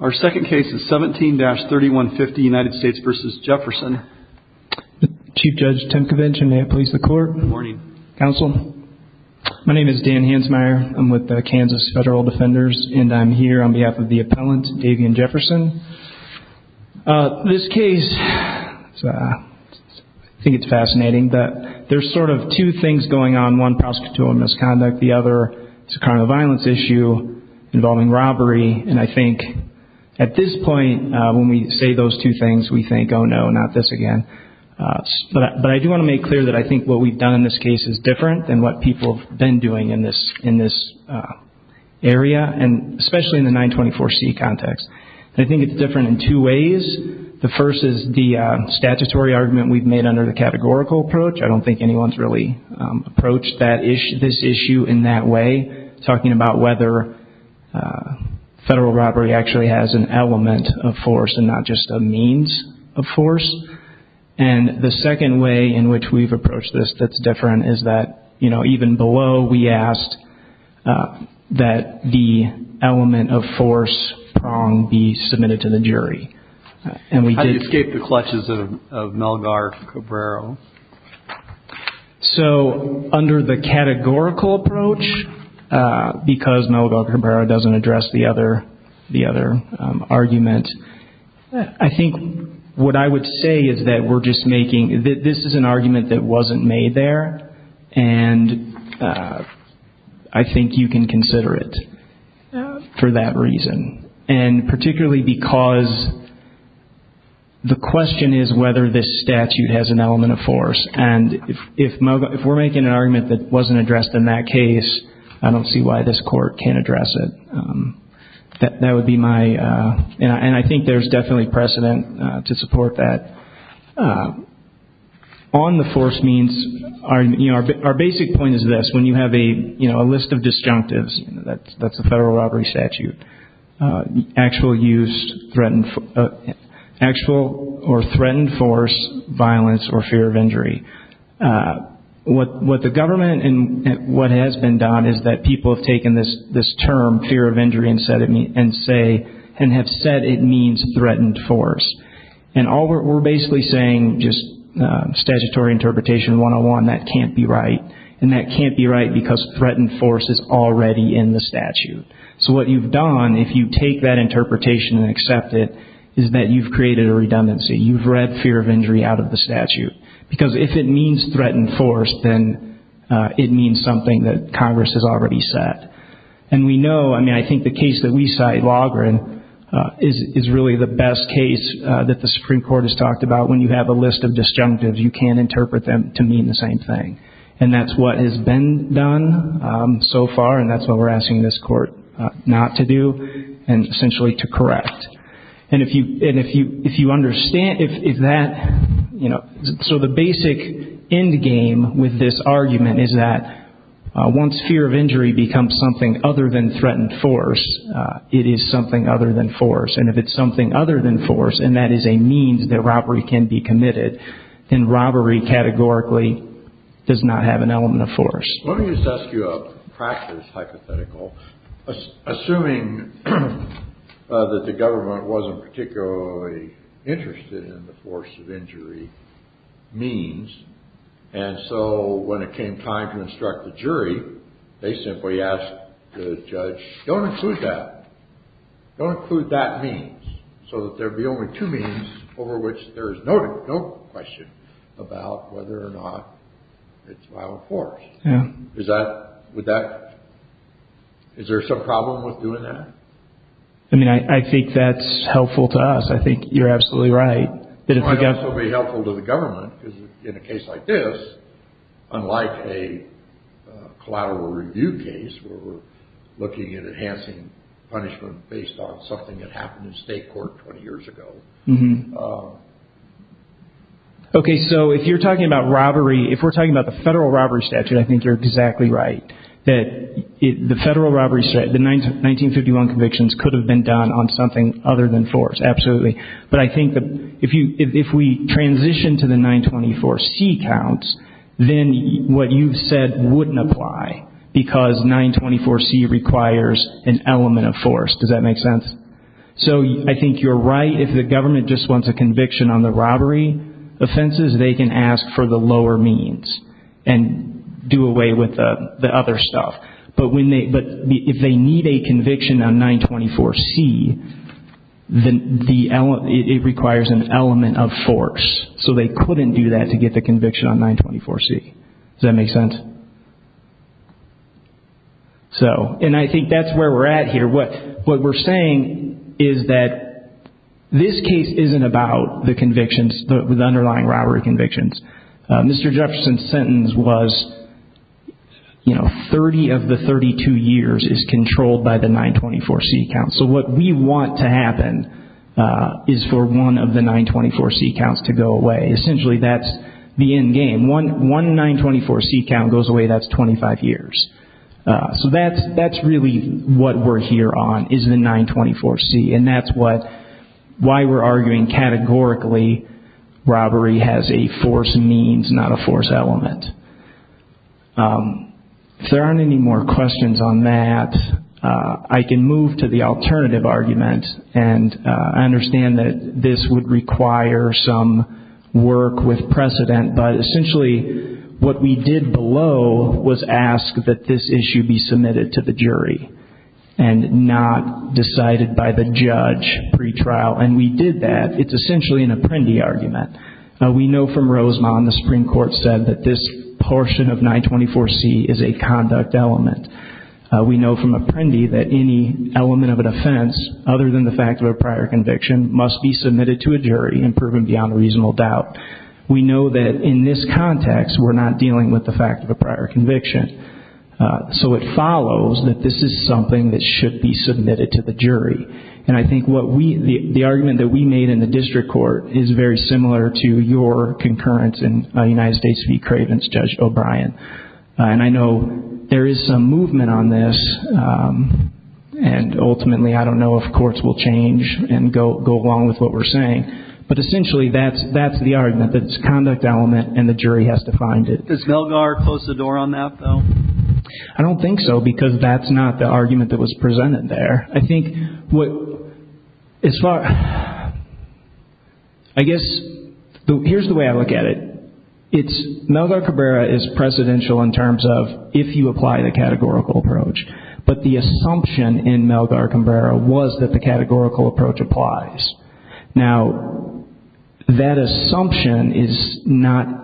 Our second case is 17-3150, United States v. Jefferson. Chief Judge Tim Covinch, and may it please the Court. Good morning. Counsel, my name is Dan Hansmeier. I'm with the Kansas Federal Defenders, and I'm here on behalf of the appellant, Davian Jefferson. This case, I think it's fascinating that there's sort of two things going on. One, prosecutorial misconduct. The other, it's a criminal violence issue involving robbery, and I think at this point, when we say those two things, we think, oh no, not this again. But I do want to make clear that I think what we've done in this case is different than what people have been doing in this area, and especially in the 924C context. I think it's different in two ways. The first is the statutory argument we've made under the categorical approach. I don't think anyone's really approached this issue in that way, talking about whether federal robbery actually has an element of force and not just a means of force. And the second way in which we've approached this that's different is that even below, we asked that the element of force prong be submitted to the jury. How do you escape the clutches of Melgar Cabrero? So under the categorical approach, because Melgar Cabrero doesn't address the other argument, I think what I would say is that we're just making, this is an argument that wasn't made there, and I think you can consider it for that reason. And particularly because the question is whether this statute has an element of force, and if we're making an argument that wasn't addressed in that case, I don't see why this court can't address it. That would be my, and I think there's definitely precedent to support that. On the force means, our basic point is this, when you have a list of disjunctives, that's a federal robbery statute, actual use, actual or threatened force, violence, or fear of injury. What the government, and what has been done, is that people have taken this term, fear of injury, and have said it means threatened force. And we're basically saying just statutory interpretation one-on-one, that can't be right, and that can't be right because threatened force is already in the statute. So what you've done, if you take that interpretation and accept it, is that you've created a redundancy. You've read fear of injury out of the statute. Because if it means threatened force, then it means something that Congress has already said. And we know, I mean, I think the case that we cite, Loughran, is really the best case that the Supreme Court has talked about. When you have a list of disjunctives, you can't interpret them to mean the same thing. And that's what has been done so far, and that's what we're asking this Court not to do, and essentially to correct. And if you understand, if that, you know, so the basic endgame with this argument is that once fear of injury becomes something other than threatened force, it is something other than force. And if it's something other than force, and that is a means that robbery can be committed, then robbery categorically does not have an element of force. Let me just ask you a practice hypothetical. Assuming that the government wasn't particularly interested in the force of injury means, and so when it came time to instruct the jury, they simply asked the judge, don't include that, don't include that means, so that there would be only two means over which there is no question about whether or not it's by force. Is that, would that, is there some problem with doing that? I mean, I think that's helpful to us. I think you're absolutely right. It might also be helpful to the government, because in a case like this, unlike a collateral review case where we're looking at enhancing punishment based on something that happened in state court 20 years ago. Okay, so if you're talking about robbery, if we're talking about the federal robbery statute, I think you're exactly right. The federal robbery statute, the 1951 convictions, could have been done on something other than force, absolutely. But I think that if we transition to the 924C counts, then what you've said wouldn't apply, because 924C requires an element of force. Does that make sense? So I think you're right. If the government just wants a conviction on the robbery offenses, they can ask for the lower means and do away with the other stuff. But if they need a conviction on 924C, then it requires an element of force. So they couldn't do that to get the conviction on 924C. Does that make sense? So, and I think that's where we're at here. What we're saying is that this case isn't about the convictions, the underlying robbery convictions. Mr. Jefferson's sentence was 30 of the 32 years is controlled by the 924C counts. So what we want to happen is for one of the 924C counts to go away. Essentially, that's the end game. One 924C count goes away, that's 25 years. So that's really what we're here on is the 924C, and that's why we're arguing categorically robbery has a force means, not a force element. If there aren't any more questions on that, I can move to the alternative argument, and I understand that this would require some work with precedent, but essentially what we did below was ask that this issue be submitted to the jury and not decided by the judge pretrial, and we did that. It's essentially an apprendi argument. We know from Rosemond the Supreme Court said that this portion of 924C is a conduct element. We know from apprendi that any element of an offense, other than the fact of a prior conviction, must be submitted to a jury and proven beyond a reasonable doubt. We know that in this context, we're not dealing with the fact of a prior conviction. So it follows that this is something that should be submitted to the jury, and I think the argument that we made in the district court is very similar to your concurrence in United States v. Cravens, Judge O'Brien, and I know there is some movement on this, and ultimately I don't know if courts will change and go along with what we're saying, but essentially that's the argument, that it's a conduct element and the jury has to find it. Does Melgar close the door on that, though? I don't think so, because that's not the argument that was presented there. I think what, as far, I guess, here's the way I look at it. It's, Melgar Cabrera is precedential in terms of if you apply the categorical approach, but the assumption in Melgar Cabrera was that the categorical approach applies. Now, that assumption is not,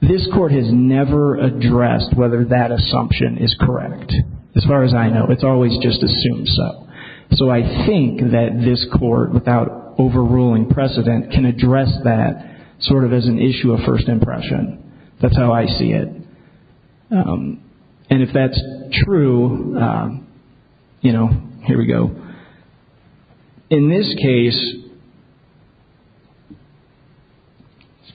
this court has never addressed whether that assumption is correct. As far as I know, it's always just assumed so. So I think that this court, without overruling precedent, can address that sort of as an issue of first impression. That's how I see it. And if that's true, you know, here we go. In this case,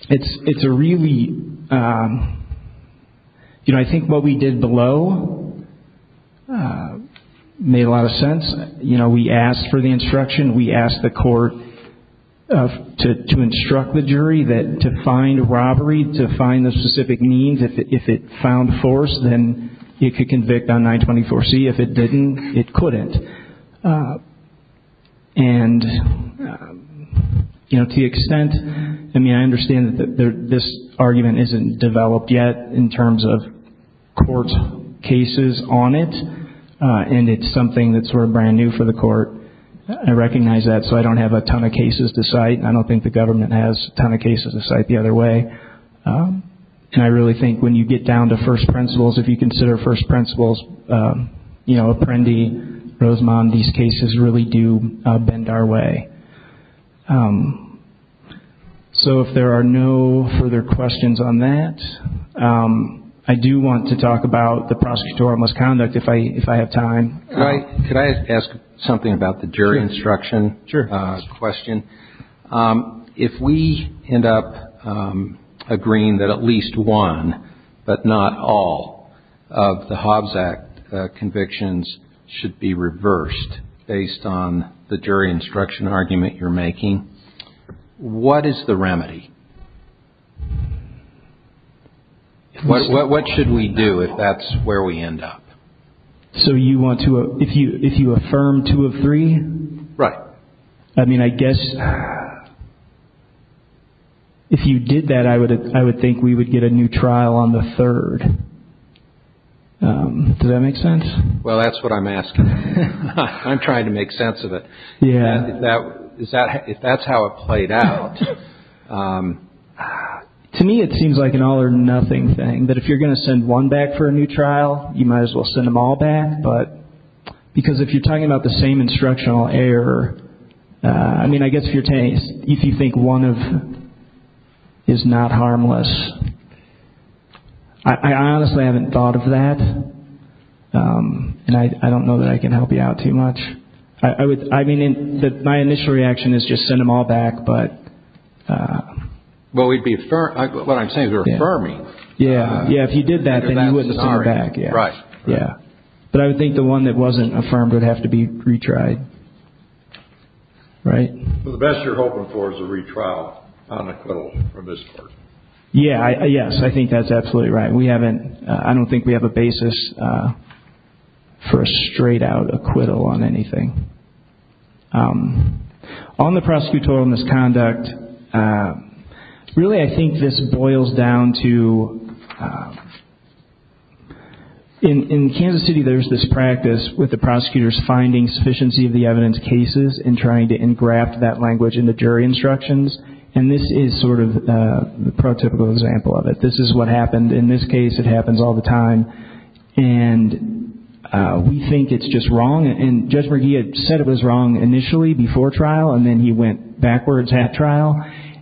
it's a really, you know, I think what we did below made a lot of sense. You know, we asked for the instruction, we asked the court to instruct the jury to find robbery, to find the specific means. If it found force, then it could convict on 924C. If it didn't, it couldn't. And, you know, to the extent, I mean, I understand that this argument isn't developed yet in terms of court cases on it, and it's something that's sort of brand new for the court. I recognize that, so I don't have a ton of cases to cite. And I don't think the government has a ton of cases to cite the other way. And I really think when you get down to first principles, if you consider first principles, you know, Apprendi, Rosamondi's cases really do bend our way. So if there are no further questions on that, I do want to talk about the prosecutorial misconduct if I have time. Could I ask something about the jury instruction question? Sure. If we end up agreeing that at least one, but not all, of the Hobbs Act convictions should be reversed based on the jury instruction argument you're making, what is the remedy? What should we do if that's where we end up? So you want to, if you affirm two of three? Right. I mean, I guess if you did that, I would think we would get a new trial on the third. Does that make sense? Well, that's what I'm asking. I'm trying to make sense of it. Yeah. If that's how it played out. To me, it seems like an all or nothing thing, that if you're going to send one back for a new trial, you might as well send them all back. Because if you're talking about the same instructional error, I mean, I guess if you think one of is not harmless, I honestly haven't thought of that. And I don't know that I can help you out too much. I would, I mean, my initial reaction is just send them all back, but. Well, we'd be, what I'm saying is we're affirming. Yeah. Yeah, if you did that, then you wouldn't send them back. Right. Yeah. But I would think the one that wasn't affirmed would have to be retried. Right? The best you're hoping for is a retrial on acquittal from this court. Yeah, yes, I think that's absolutely right. We haven't, I don't think we have a basis for a straight out acquittal on anything. On the prosecutorial misconduct, really I think this boils down to, in Kansas City, there's this practice with the prosecutors finding sufficiency of the evidence cases and trying to engraft that language into jury instructions. And this is sort of the prototypical example of it. This is what happened in this case. It happens all the time. And we think it's just wrong. And Judge McGee had said it was wrong initially before trial, and then he went backwards at trial.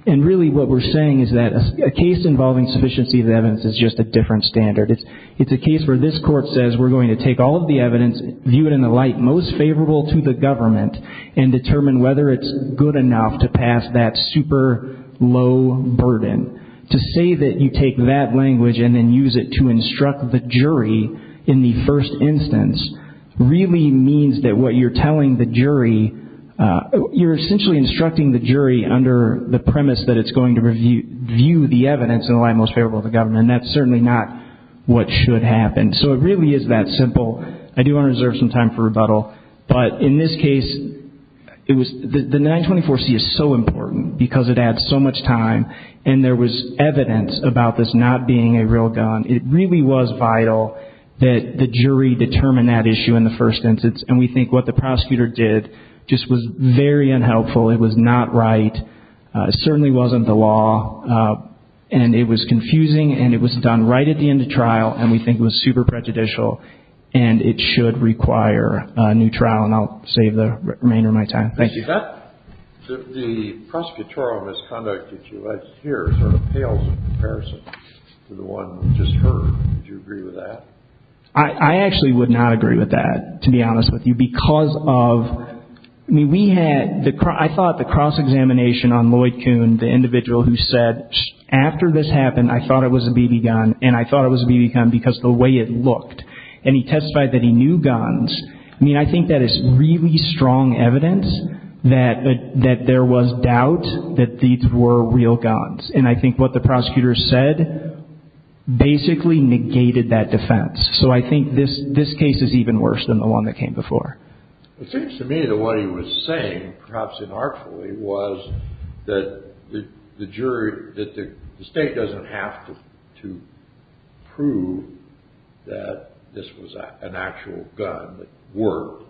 And really what we're saying is that a case involving sufficiency of evidence is just a different standard. It's a case where this court says we're going to take all of the evidence, view it in the light most favorable to the government, and determine whether it's good enough to pass that super low burden. To say that you take that language and then use it to instruct the jury in the first instance really means that what you're telling the jury, you're essentially instructing the jury under the premise that it's going to view the evidence in the light most favorable to the government. And that's certainly not what should happen. So it really is that simple. But in this case, the 924C is so important because it adds so much time. And there was evidence about this not being a real gun. It really was vital that the jury determine that issue in the first instance. And we think what the prosecutor did just was very unhelpful. It was not right. It certainly wasn't the law. And it was confusing, and it was done right at the end of trial, and we think it was super prejudicial. And it should require a new trial. And I'll save the remainder of my time. Thank you. The prosecutorial misconduct that you had here sort of pales in comparison to the one we just heard. Would you agree with that? I actually would not agree with that, to be honest with you, because of we had the – I thought the cross-examination on Lloyd Kuhn, the individual who said, after this happened, I thought it was a BB gun, and I thought it was a BB gun because the way it looked. And he testified that he knew guns. I mean, I think that is really strong evidence that there was doubt that these were real guns. And I think what the prosecutor said basically negated that defense. So I think this case is even worse than the one that came before. It seems to me that what he was saying, perhaps inartfully, was that the jury – that the State doesn't have to prove that this was an actual gun that worked,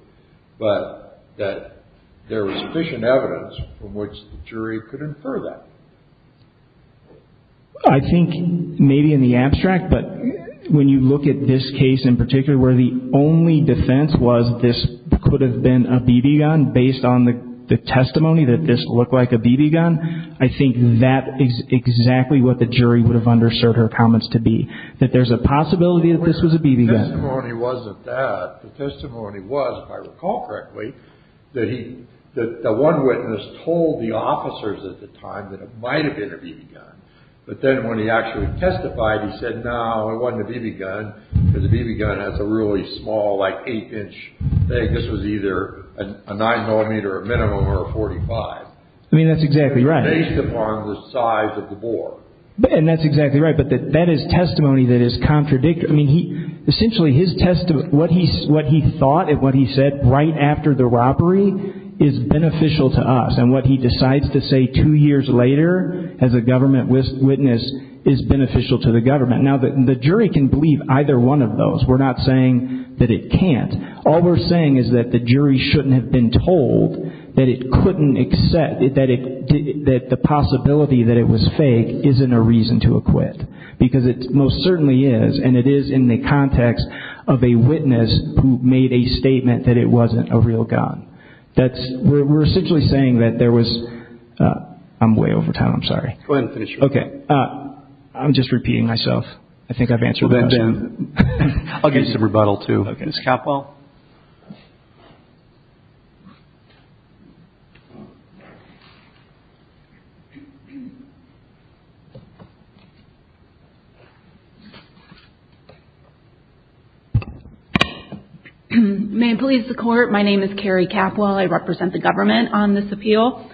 but that there was sufficient evidence from which the jury could infer that. I think maybe in the abstract, but when you look at this case in particular, where the only defense was this could have been a BB gun based on the testimony that this looked like a BB gun, I think that is exactly what the jury would have underserved her comments to be, that there's a possibility that this was a BB gun. The testimony wasn't that. The testimony was, if I recall correctly, that the one witness told the officers at the time that it might have been a BB gun. But then when he actually testified, he said, no, it wasn't a BB gun because a BB gun has a really small, like, eight-inch thing. This was either a nine-millimeter minimum or a .45. I mean, that's exactly right. Based upon the size of the bore. And that's exactly right. But that is testimony that is contradictory. I mean, essentially his testimony, what he thought and what he said right after the robbery is beneficial to us. And what he decides to say two years later as a government witness is beneficial to the government. Now, the jury can believe either one of those. We're not saying that it can't. All we're saying is that the jury shouldn't have been told that it couldn't accept, that the possibility that it was fake isn't a reason to acquit because it most certainly is. And it is in the context of a witness who made a statement that it wasn't a real gun. That's, we're essentially saying that there was, I'm way over time. I'm sorry. Go ahead and finish. Okay. I'm just repeating myself. I think I've answered the question. I'll give you some rebuttal too. Okay. Ms. Capwell. May it please the Court. My name is Carrie Capwell. I represent the government on this appeal.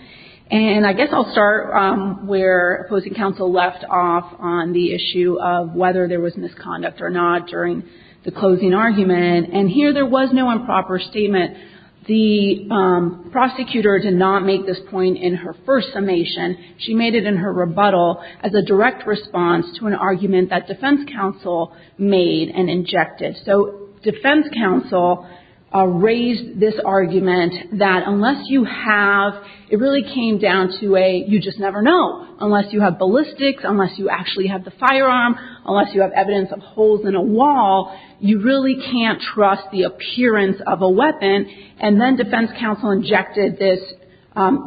And I guess I'll start where opposing counsel left off on the issue of whether there was misconduct or not during the closing argument. And here there was no improper statement. The prosecutor did not make this point in her first summation. She made it in her rebuttal as a direct response to an argument that defense counsel made and injected. So defense counsel raised this argument that unless you have, it really came down to a you just never know. Unless you have ballistics, unless you actually have the firearm, unless you have evidence of holes in a wall, you really can't trust the appearance of a weapon. And then defense counsel injected this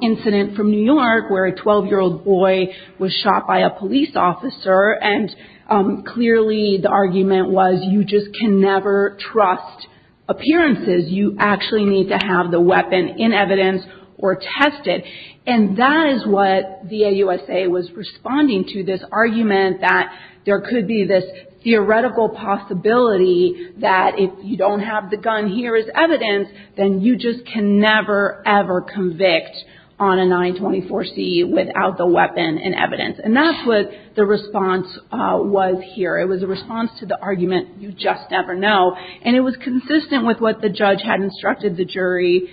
incident from New York where a 12-year-old boy was shot by a police officer. And clearly the argument was you just can never trust appearances. You actually need to have the weapon in evidence or tested. And that is what the AUSA was responding to, this argument that there could be this theoretical possibility that if you don't have the gun here as evidence, then you just can never, ever convict on a 924C without the weapon and evidence. And that's what the response was here. It was a response to the argument you just never know. And it was consistent with what the judge had instructed the jury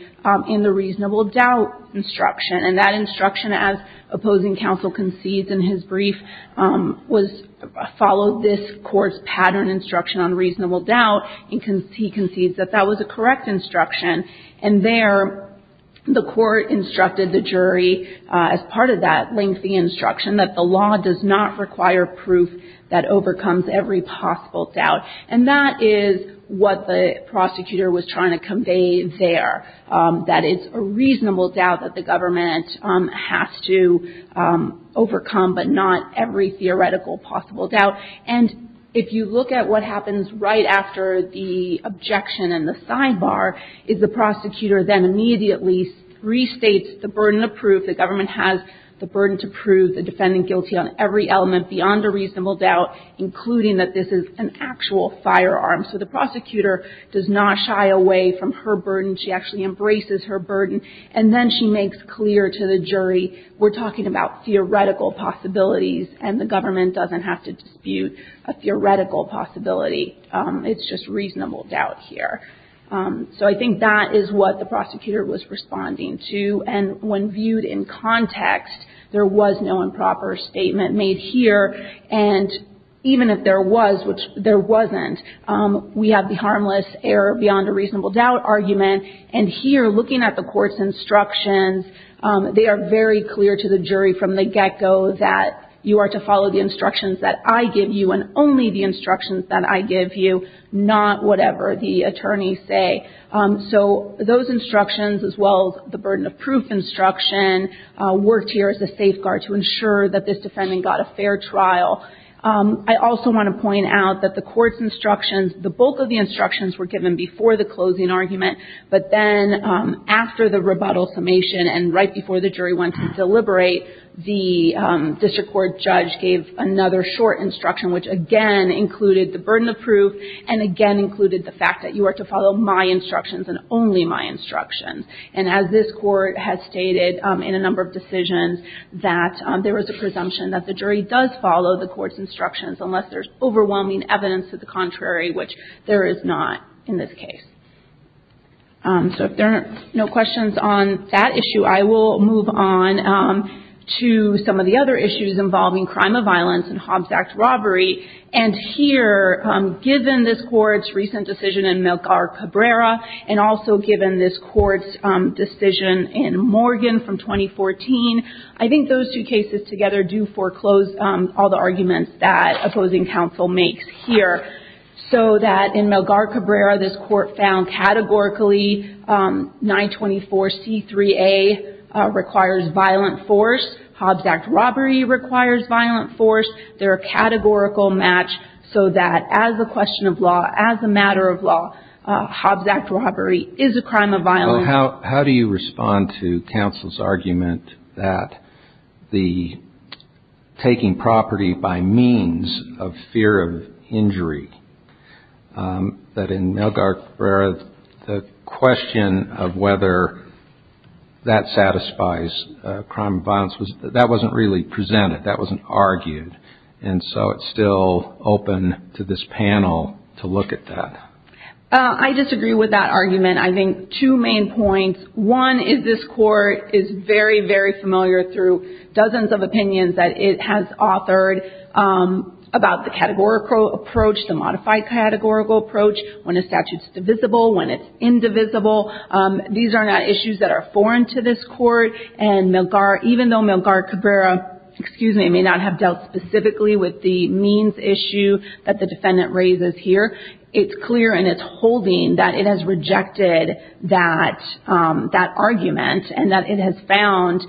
in the reasonable doubt instruction. And that instruction, as opposing counsel concedes in his brief, was follow this court's pattern instruction on reasonable doubt. And he concedes that that was a correct instruction. And there the court instructed the jury as part of that lengthy instruction that the law does not require proof that overcomes every possible doubt. And that is what the prosecutor was trying to convey there. That it's a reasonable doubt that the government has to overcome, but not every theoretical possible doubt. And if you look at what happens right after the objection and the sidebar is the prosecutor then immediately restates the burden of proof. The government has the burden to prove the defendant guilty on every element beyond a reasonable doubt, including that this is an actual firearm. So the prosecutor does not shy away from her burden. She actually embraces her burden. And then she makes clear to the jury, we're talking about theoretical possibilities, and the government doesn't have to dispute a theoretical possibility. It's just reasonable doubt here. So I think that is what the prosecutor was responding to. And when viewed in context, there was no improper statement made here. And even if there was, which there wasn't, we have the harmless error beyond a reasonable doubt argument. And here, looking at the court's instructions, they are very clear to the jury from the get-go that you are to follow the instructions that I give you and only the instructions that I give you, not whatever the attorneys say. So those instructions, as well as the burden of proof instruction, worked here as a safeguard to ensure that this defendant got a fair trial. I also want to point out that the court's instructions, the bulk of the instructions were given before the closing argument, but then after the rebuttal summation and right before the jury went to deliberate, the district court judge gave another short instruction, which again included the burden of proof and again included the fact that you are to follow my instructions and only my instructions. And as this court has stated in a number of decisions, that there was a presumption that the jury does follow the court's instructions unless there's overwhelming evidence to the contrary, which there is not in this case. So if there are no questions on that issue, I will move on to some of the other issues involving crime of violence and Hobbs Act robbery. And here, given this court's recent decision in Melgar-Cabrera and also given this court's decision in Morgan from 2014, I think those two cases together do foreclose all the arguments that opposing counsel makes here. So that in Melgar-Cabrera, this court found categorically 924C3A requires violent force. Hobbs Act robbery requires violent force. They're a categorical match so that as a question of law, as a matter of law, Hobbs Act robbery is a crime of violence. Well, how do you respond to counsel's argument that the taking property by means of fear of injury, that in Melgar-Cabrera the question of whether that satisfies crime of violence, that wasn't really presented, that wasn't argued. And so it's still open to this panel to look at that. I disagree with that argument. I think two main points. One is this court is very, very familiar through dozens of opinions that it has authored about the categorical approach, the modified categorical approach, when a statute's divisible, when it's indivisible. These are not issues that are foreign to this court. And Melgar, even though Melgar-Cabrera, excuse me, may not have dealt specifically with the means issue that the defendant raises here, it's clear in its holding that it has rejected that argument and that it has found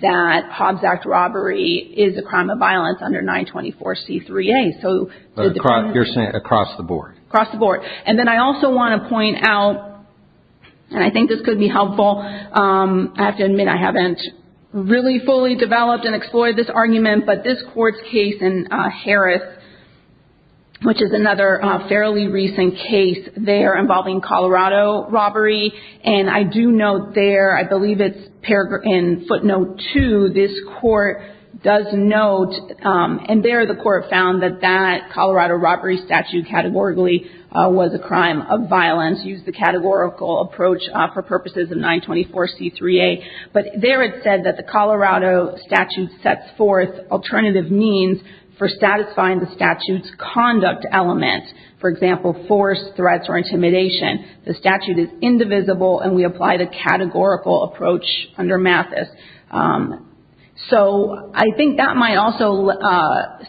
that Hobbs Act robbery is a crime of violence under 924C3A. You're saying across the board? Across the board. And then I also want to point out, and I think this could be helpful, I have to admit I haven't really fully developed and explored this argument, but this court's case in Harris, which is another fairly recent case there involving Colorado robbery, and I do note there, I believe it's in footnote 2, this court does note, and there the court found that that Colorado robbery statute categorically was a crime of violence, used the categorical approach for purposes of 924C3A, but there it said that the Colorado statute sets forth alternative means for satisfying the statute's conduct element, for example, force, threats, or intimidation. The statute is indivisible, and we apply the categorical approach under Mathis. So I think that might also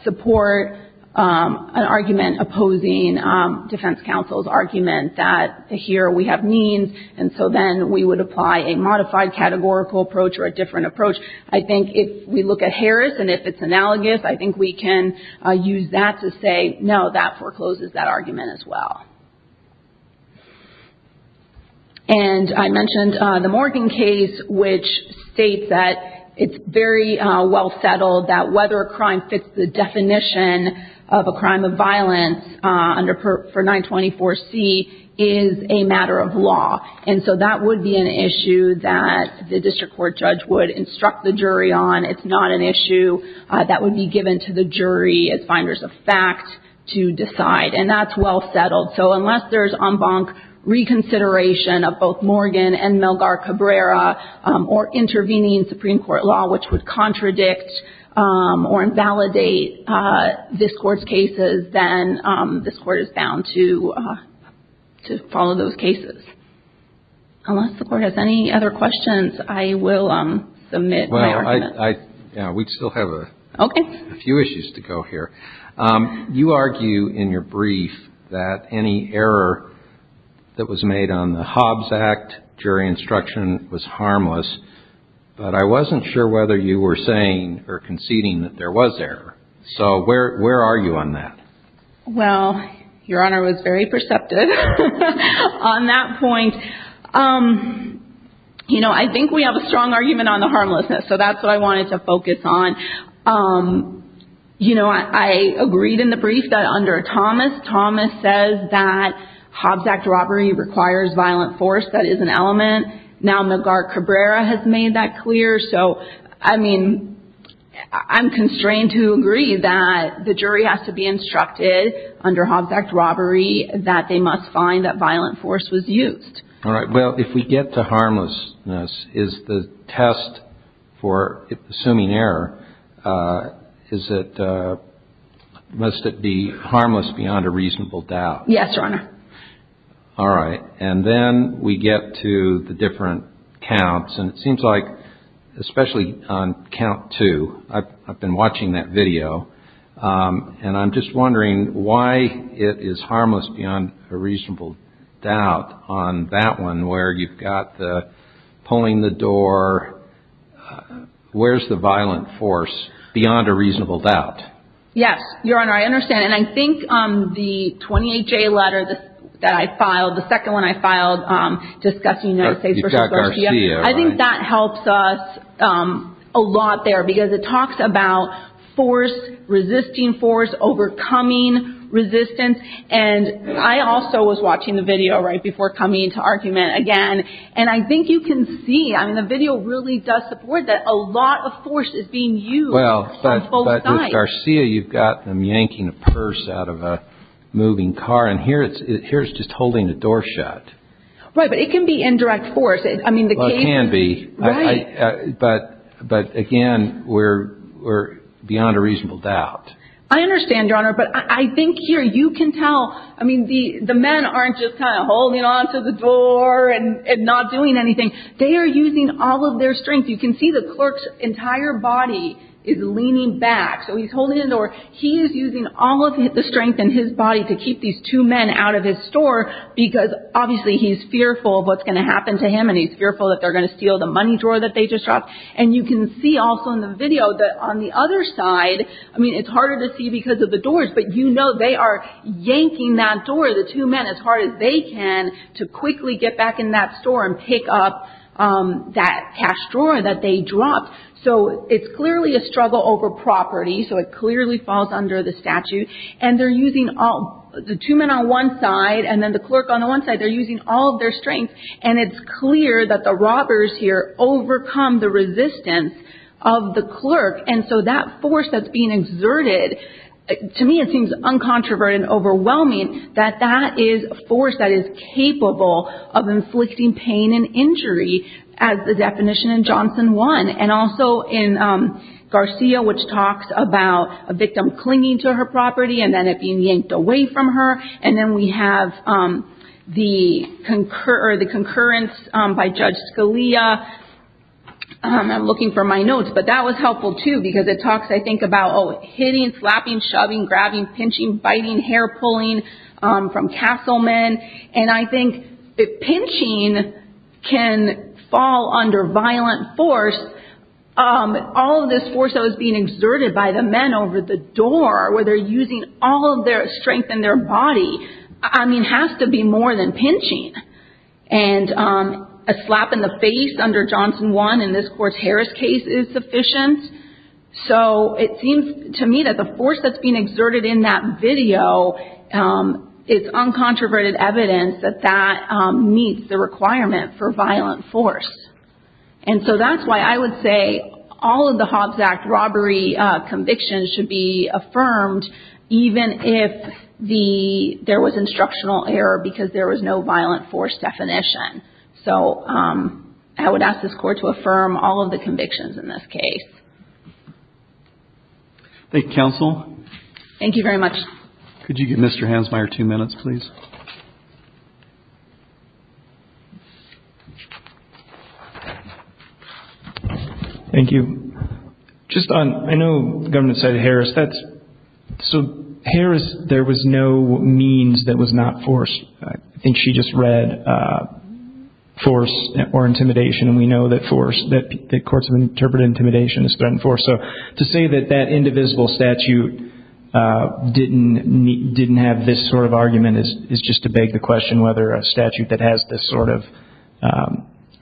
support an argument opposing defense counsel's argument that here we have means, and so then we would apply a modified categorical approach or a different approach. I think if we look at Harris and if it's analogous, I think we can use that to say, no, that forecloses that argument as well. And I mentioned the Morgan case, which states that it's very well settled that whether a crime fits the definition of a crime of violence for 924C is a matter of law, and so that would be an issue that the district court judge would instruct the jury on. It's not an issue that would be given to the jury as finders of fact to decide, and that's well settled. So unless there's en banc reconsideration of both Morgan and Milgar Cabrera or intervening in Supreme Court law, which would contradict or invalidate this Court's cases, then this Court is bound to follow those cases. Unless the Court has any other questions, I will submit my argument. Well, we still have a few issues to go here. Okay. You argue in your brief that any error that was made on the Hobbs Act jury instruction was harmless, but I wasn't sure whether you were saying or conceding that there was error. So where are you on that? Well, Your Honor was very perceptive on that point. You know, I think we have a strong argument on the harmlessness, so that's what I wanted to focus on. You know, I agreed in the brief that under Thomas, Thomas says that Hobbs Act robbery requires violent force. That is an element. Now Milgar Cabrera has made that clear. So, I mean, I'm constrained to agree that the jury has to be instructed under Hobbs Act robbery that they must find that violent force was used. All right. Well, if we get to harmlessness, is the test for assuming error, is it, must it be harmless beyond a reasonable doubt? Yes, Your Honor. All right. And then we get to the different counts, and it seems like, especially on count two, I've been watching that video, and I'm just wondering why it is harmless beyond a reasonable doubt on that one, where you've got the pulling the door, where's the violent force beyond a reasonable doubt? Yes, Your Honor, I understand. And I think the 28-J letter that I filed, the second one I filed discussing United States v. Garcia, I think that helps us a lot there because it talks about force, resisting force, overcoming resistance. And I also was watching the video right before coming to argument again, and I think you can see, I mean, the video really does support that a lot of force is being used on both sides. Well, but with Garcia, you've got them yanking a purse out of a moving car, and here it's just holding the door shut. Right, but it can be indirect force. Well, it can be. Right. But, again, we're beyond a reasonable doubt. I understand, Your Honor, but I think here you can tell, I mean, the men aren't just kind of holding onto the door and not doing anything. They are using all of their strength. You can see the clerk's entire body is leaning back, so he's holding the door. He is using all of the strength in his body to keep these two men out of his store because obviously he's fearful of what's going to happen to him, and he's fearful that they're going to steal the money drawer that they just dropped. And you can see also in the video that on the other side, I mean, it's harder to see because of the doors, but you know they are yanking that door, the two men, as hard as they can to quickly get back in that store and pick up that cash drawer that they dropped. So it's clearly a struggle over property, so it clearly falls under the statute. And they're using all, the two men on one side and then the clerk on the one side, they're using all of their strength. And it's clear that the robbers here overcome the resistance of the clerk. And so that force that's being exerted, to me it seems uncontroverted and overwhelming, that that is a force that is capable of inflicting pain and injury as the definition in Johnson 1. And also in Garcia, which talks about a victim clinging to her property and then it being yanked away from her. And then we have the concurrence by Judge Scalia. I'm looking for my notes, but that was helpful, too, because it talks, I think, about hitting, slapping, shoving, grabbing, pinching, biting, hair-pulling from Castleman. And I think pinching can fall under violent force. All of this force that was being exerted by the men over the door, where they're using all of their strength in their body, I mean, has to be more than pinching. And a slap in the face under Johnson 1, in this court's Harris case, is sufficient. So it seems to me that the force that's being exerted in that video is uncontroverted evidence that that meets the requirement for violent force. And so that's why I would say all of the Hobbs Act robbery convictions should be affirmed, even if there was instructional error because there was no violent force definition. So I would ask this Court to affirm all of the convictions in this case. Thank you, Counsel. Thank you very much. Could you give Mr. Hansmeier two minutes, please? Thank you. Just on, I know the government cited Harris. So Harris, there was no means that was not forced. I think she just read force or intimidation. And we know that force, that courts have interpreted intimidation as threatened force. So to say that that indivisible statute didn't have this sort of argument is just to beg the question whether a statute that has this sort of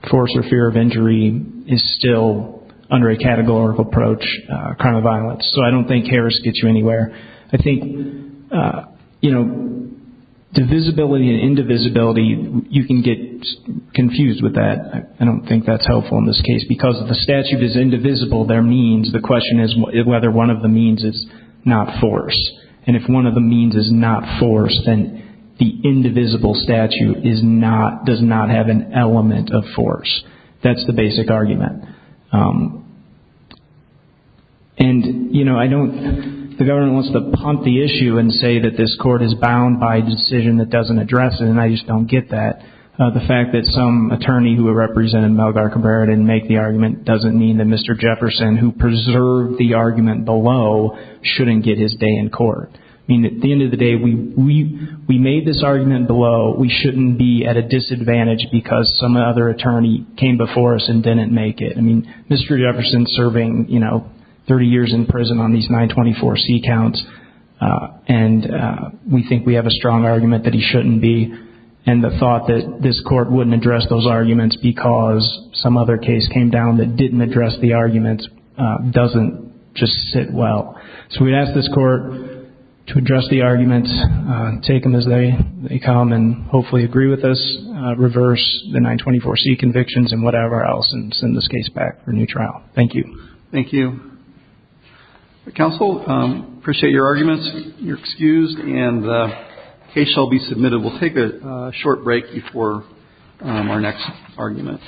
force or fear of injury is still under a categorical approach, a crime of violence. So I don't think Harris gets you anywhere. I think divisibility and indivisibility, you can get confused with that. I don't think that's helpful in this case. Because if a statute is indivisible, there are means. The question is whether one of the means is not force. And if one of the means is not force, then the indivisible statute does not have an element of force. That's the basic argument. And, you know, I don't, the government wants to pump the issue and say that this court is bound by a decision that doesn't address it. And I just don't get that. The fact that some attorney who represented Malgar Cabrera didn't make the argument doesn't mean that Mr. Jefferson, who preserved the argument below, shouldn't get his day in court. I mean, at the end of the day, we made this argument below. We shouldn't be at a disadvantage because some other attorney came before us and didn't make it. I mean, Mr. Jefferson is serving, you know, 30 years in prison on these 924C counts, and we think we have a strong argument that he shouldn't be. And the thought that this court wouldn't address those arguments because some other case came down that didn't address the arguments doesn't just sit well. So we'd ask this court to address the arguments, take them as they come, and hopefully agree with us, reverse the 924C convictions and whatever else, and send this case back for a new trial. Thank you. Thank you. Counsel, appreciate your arguments. You're excused, and the case shall be submitted. We'll take a short break before our next argument.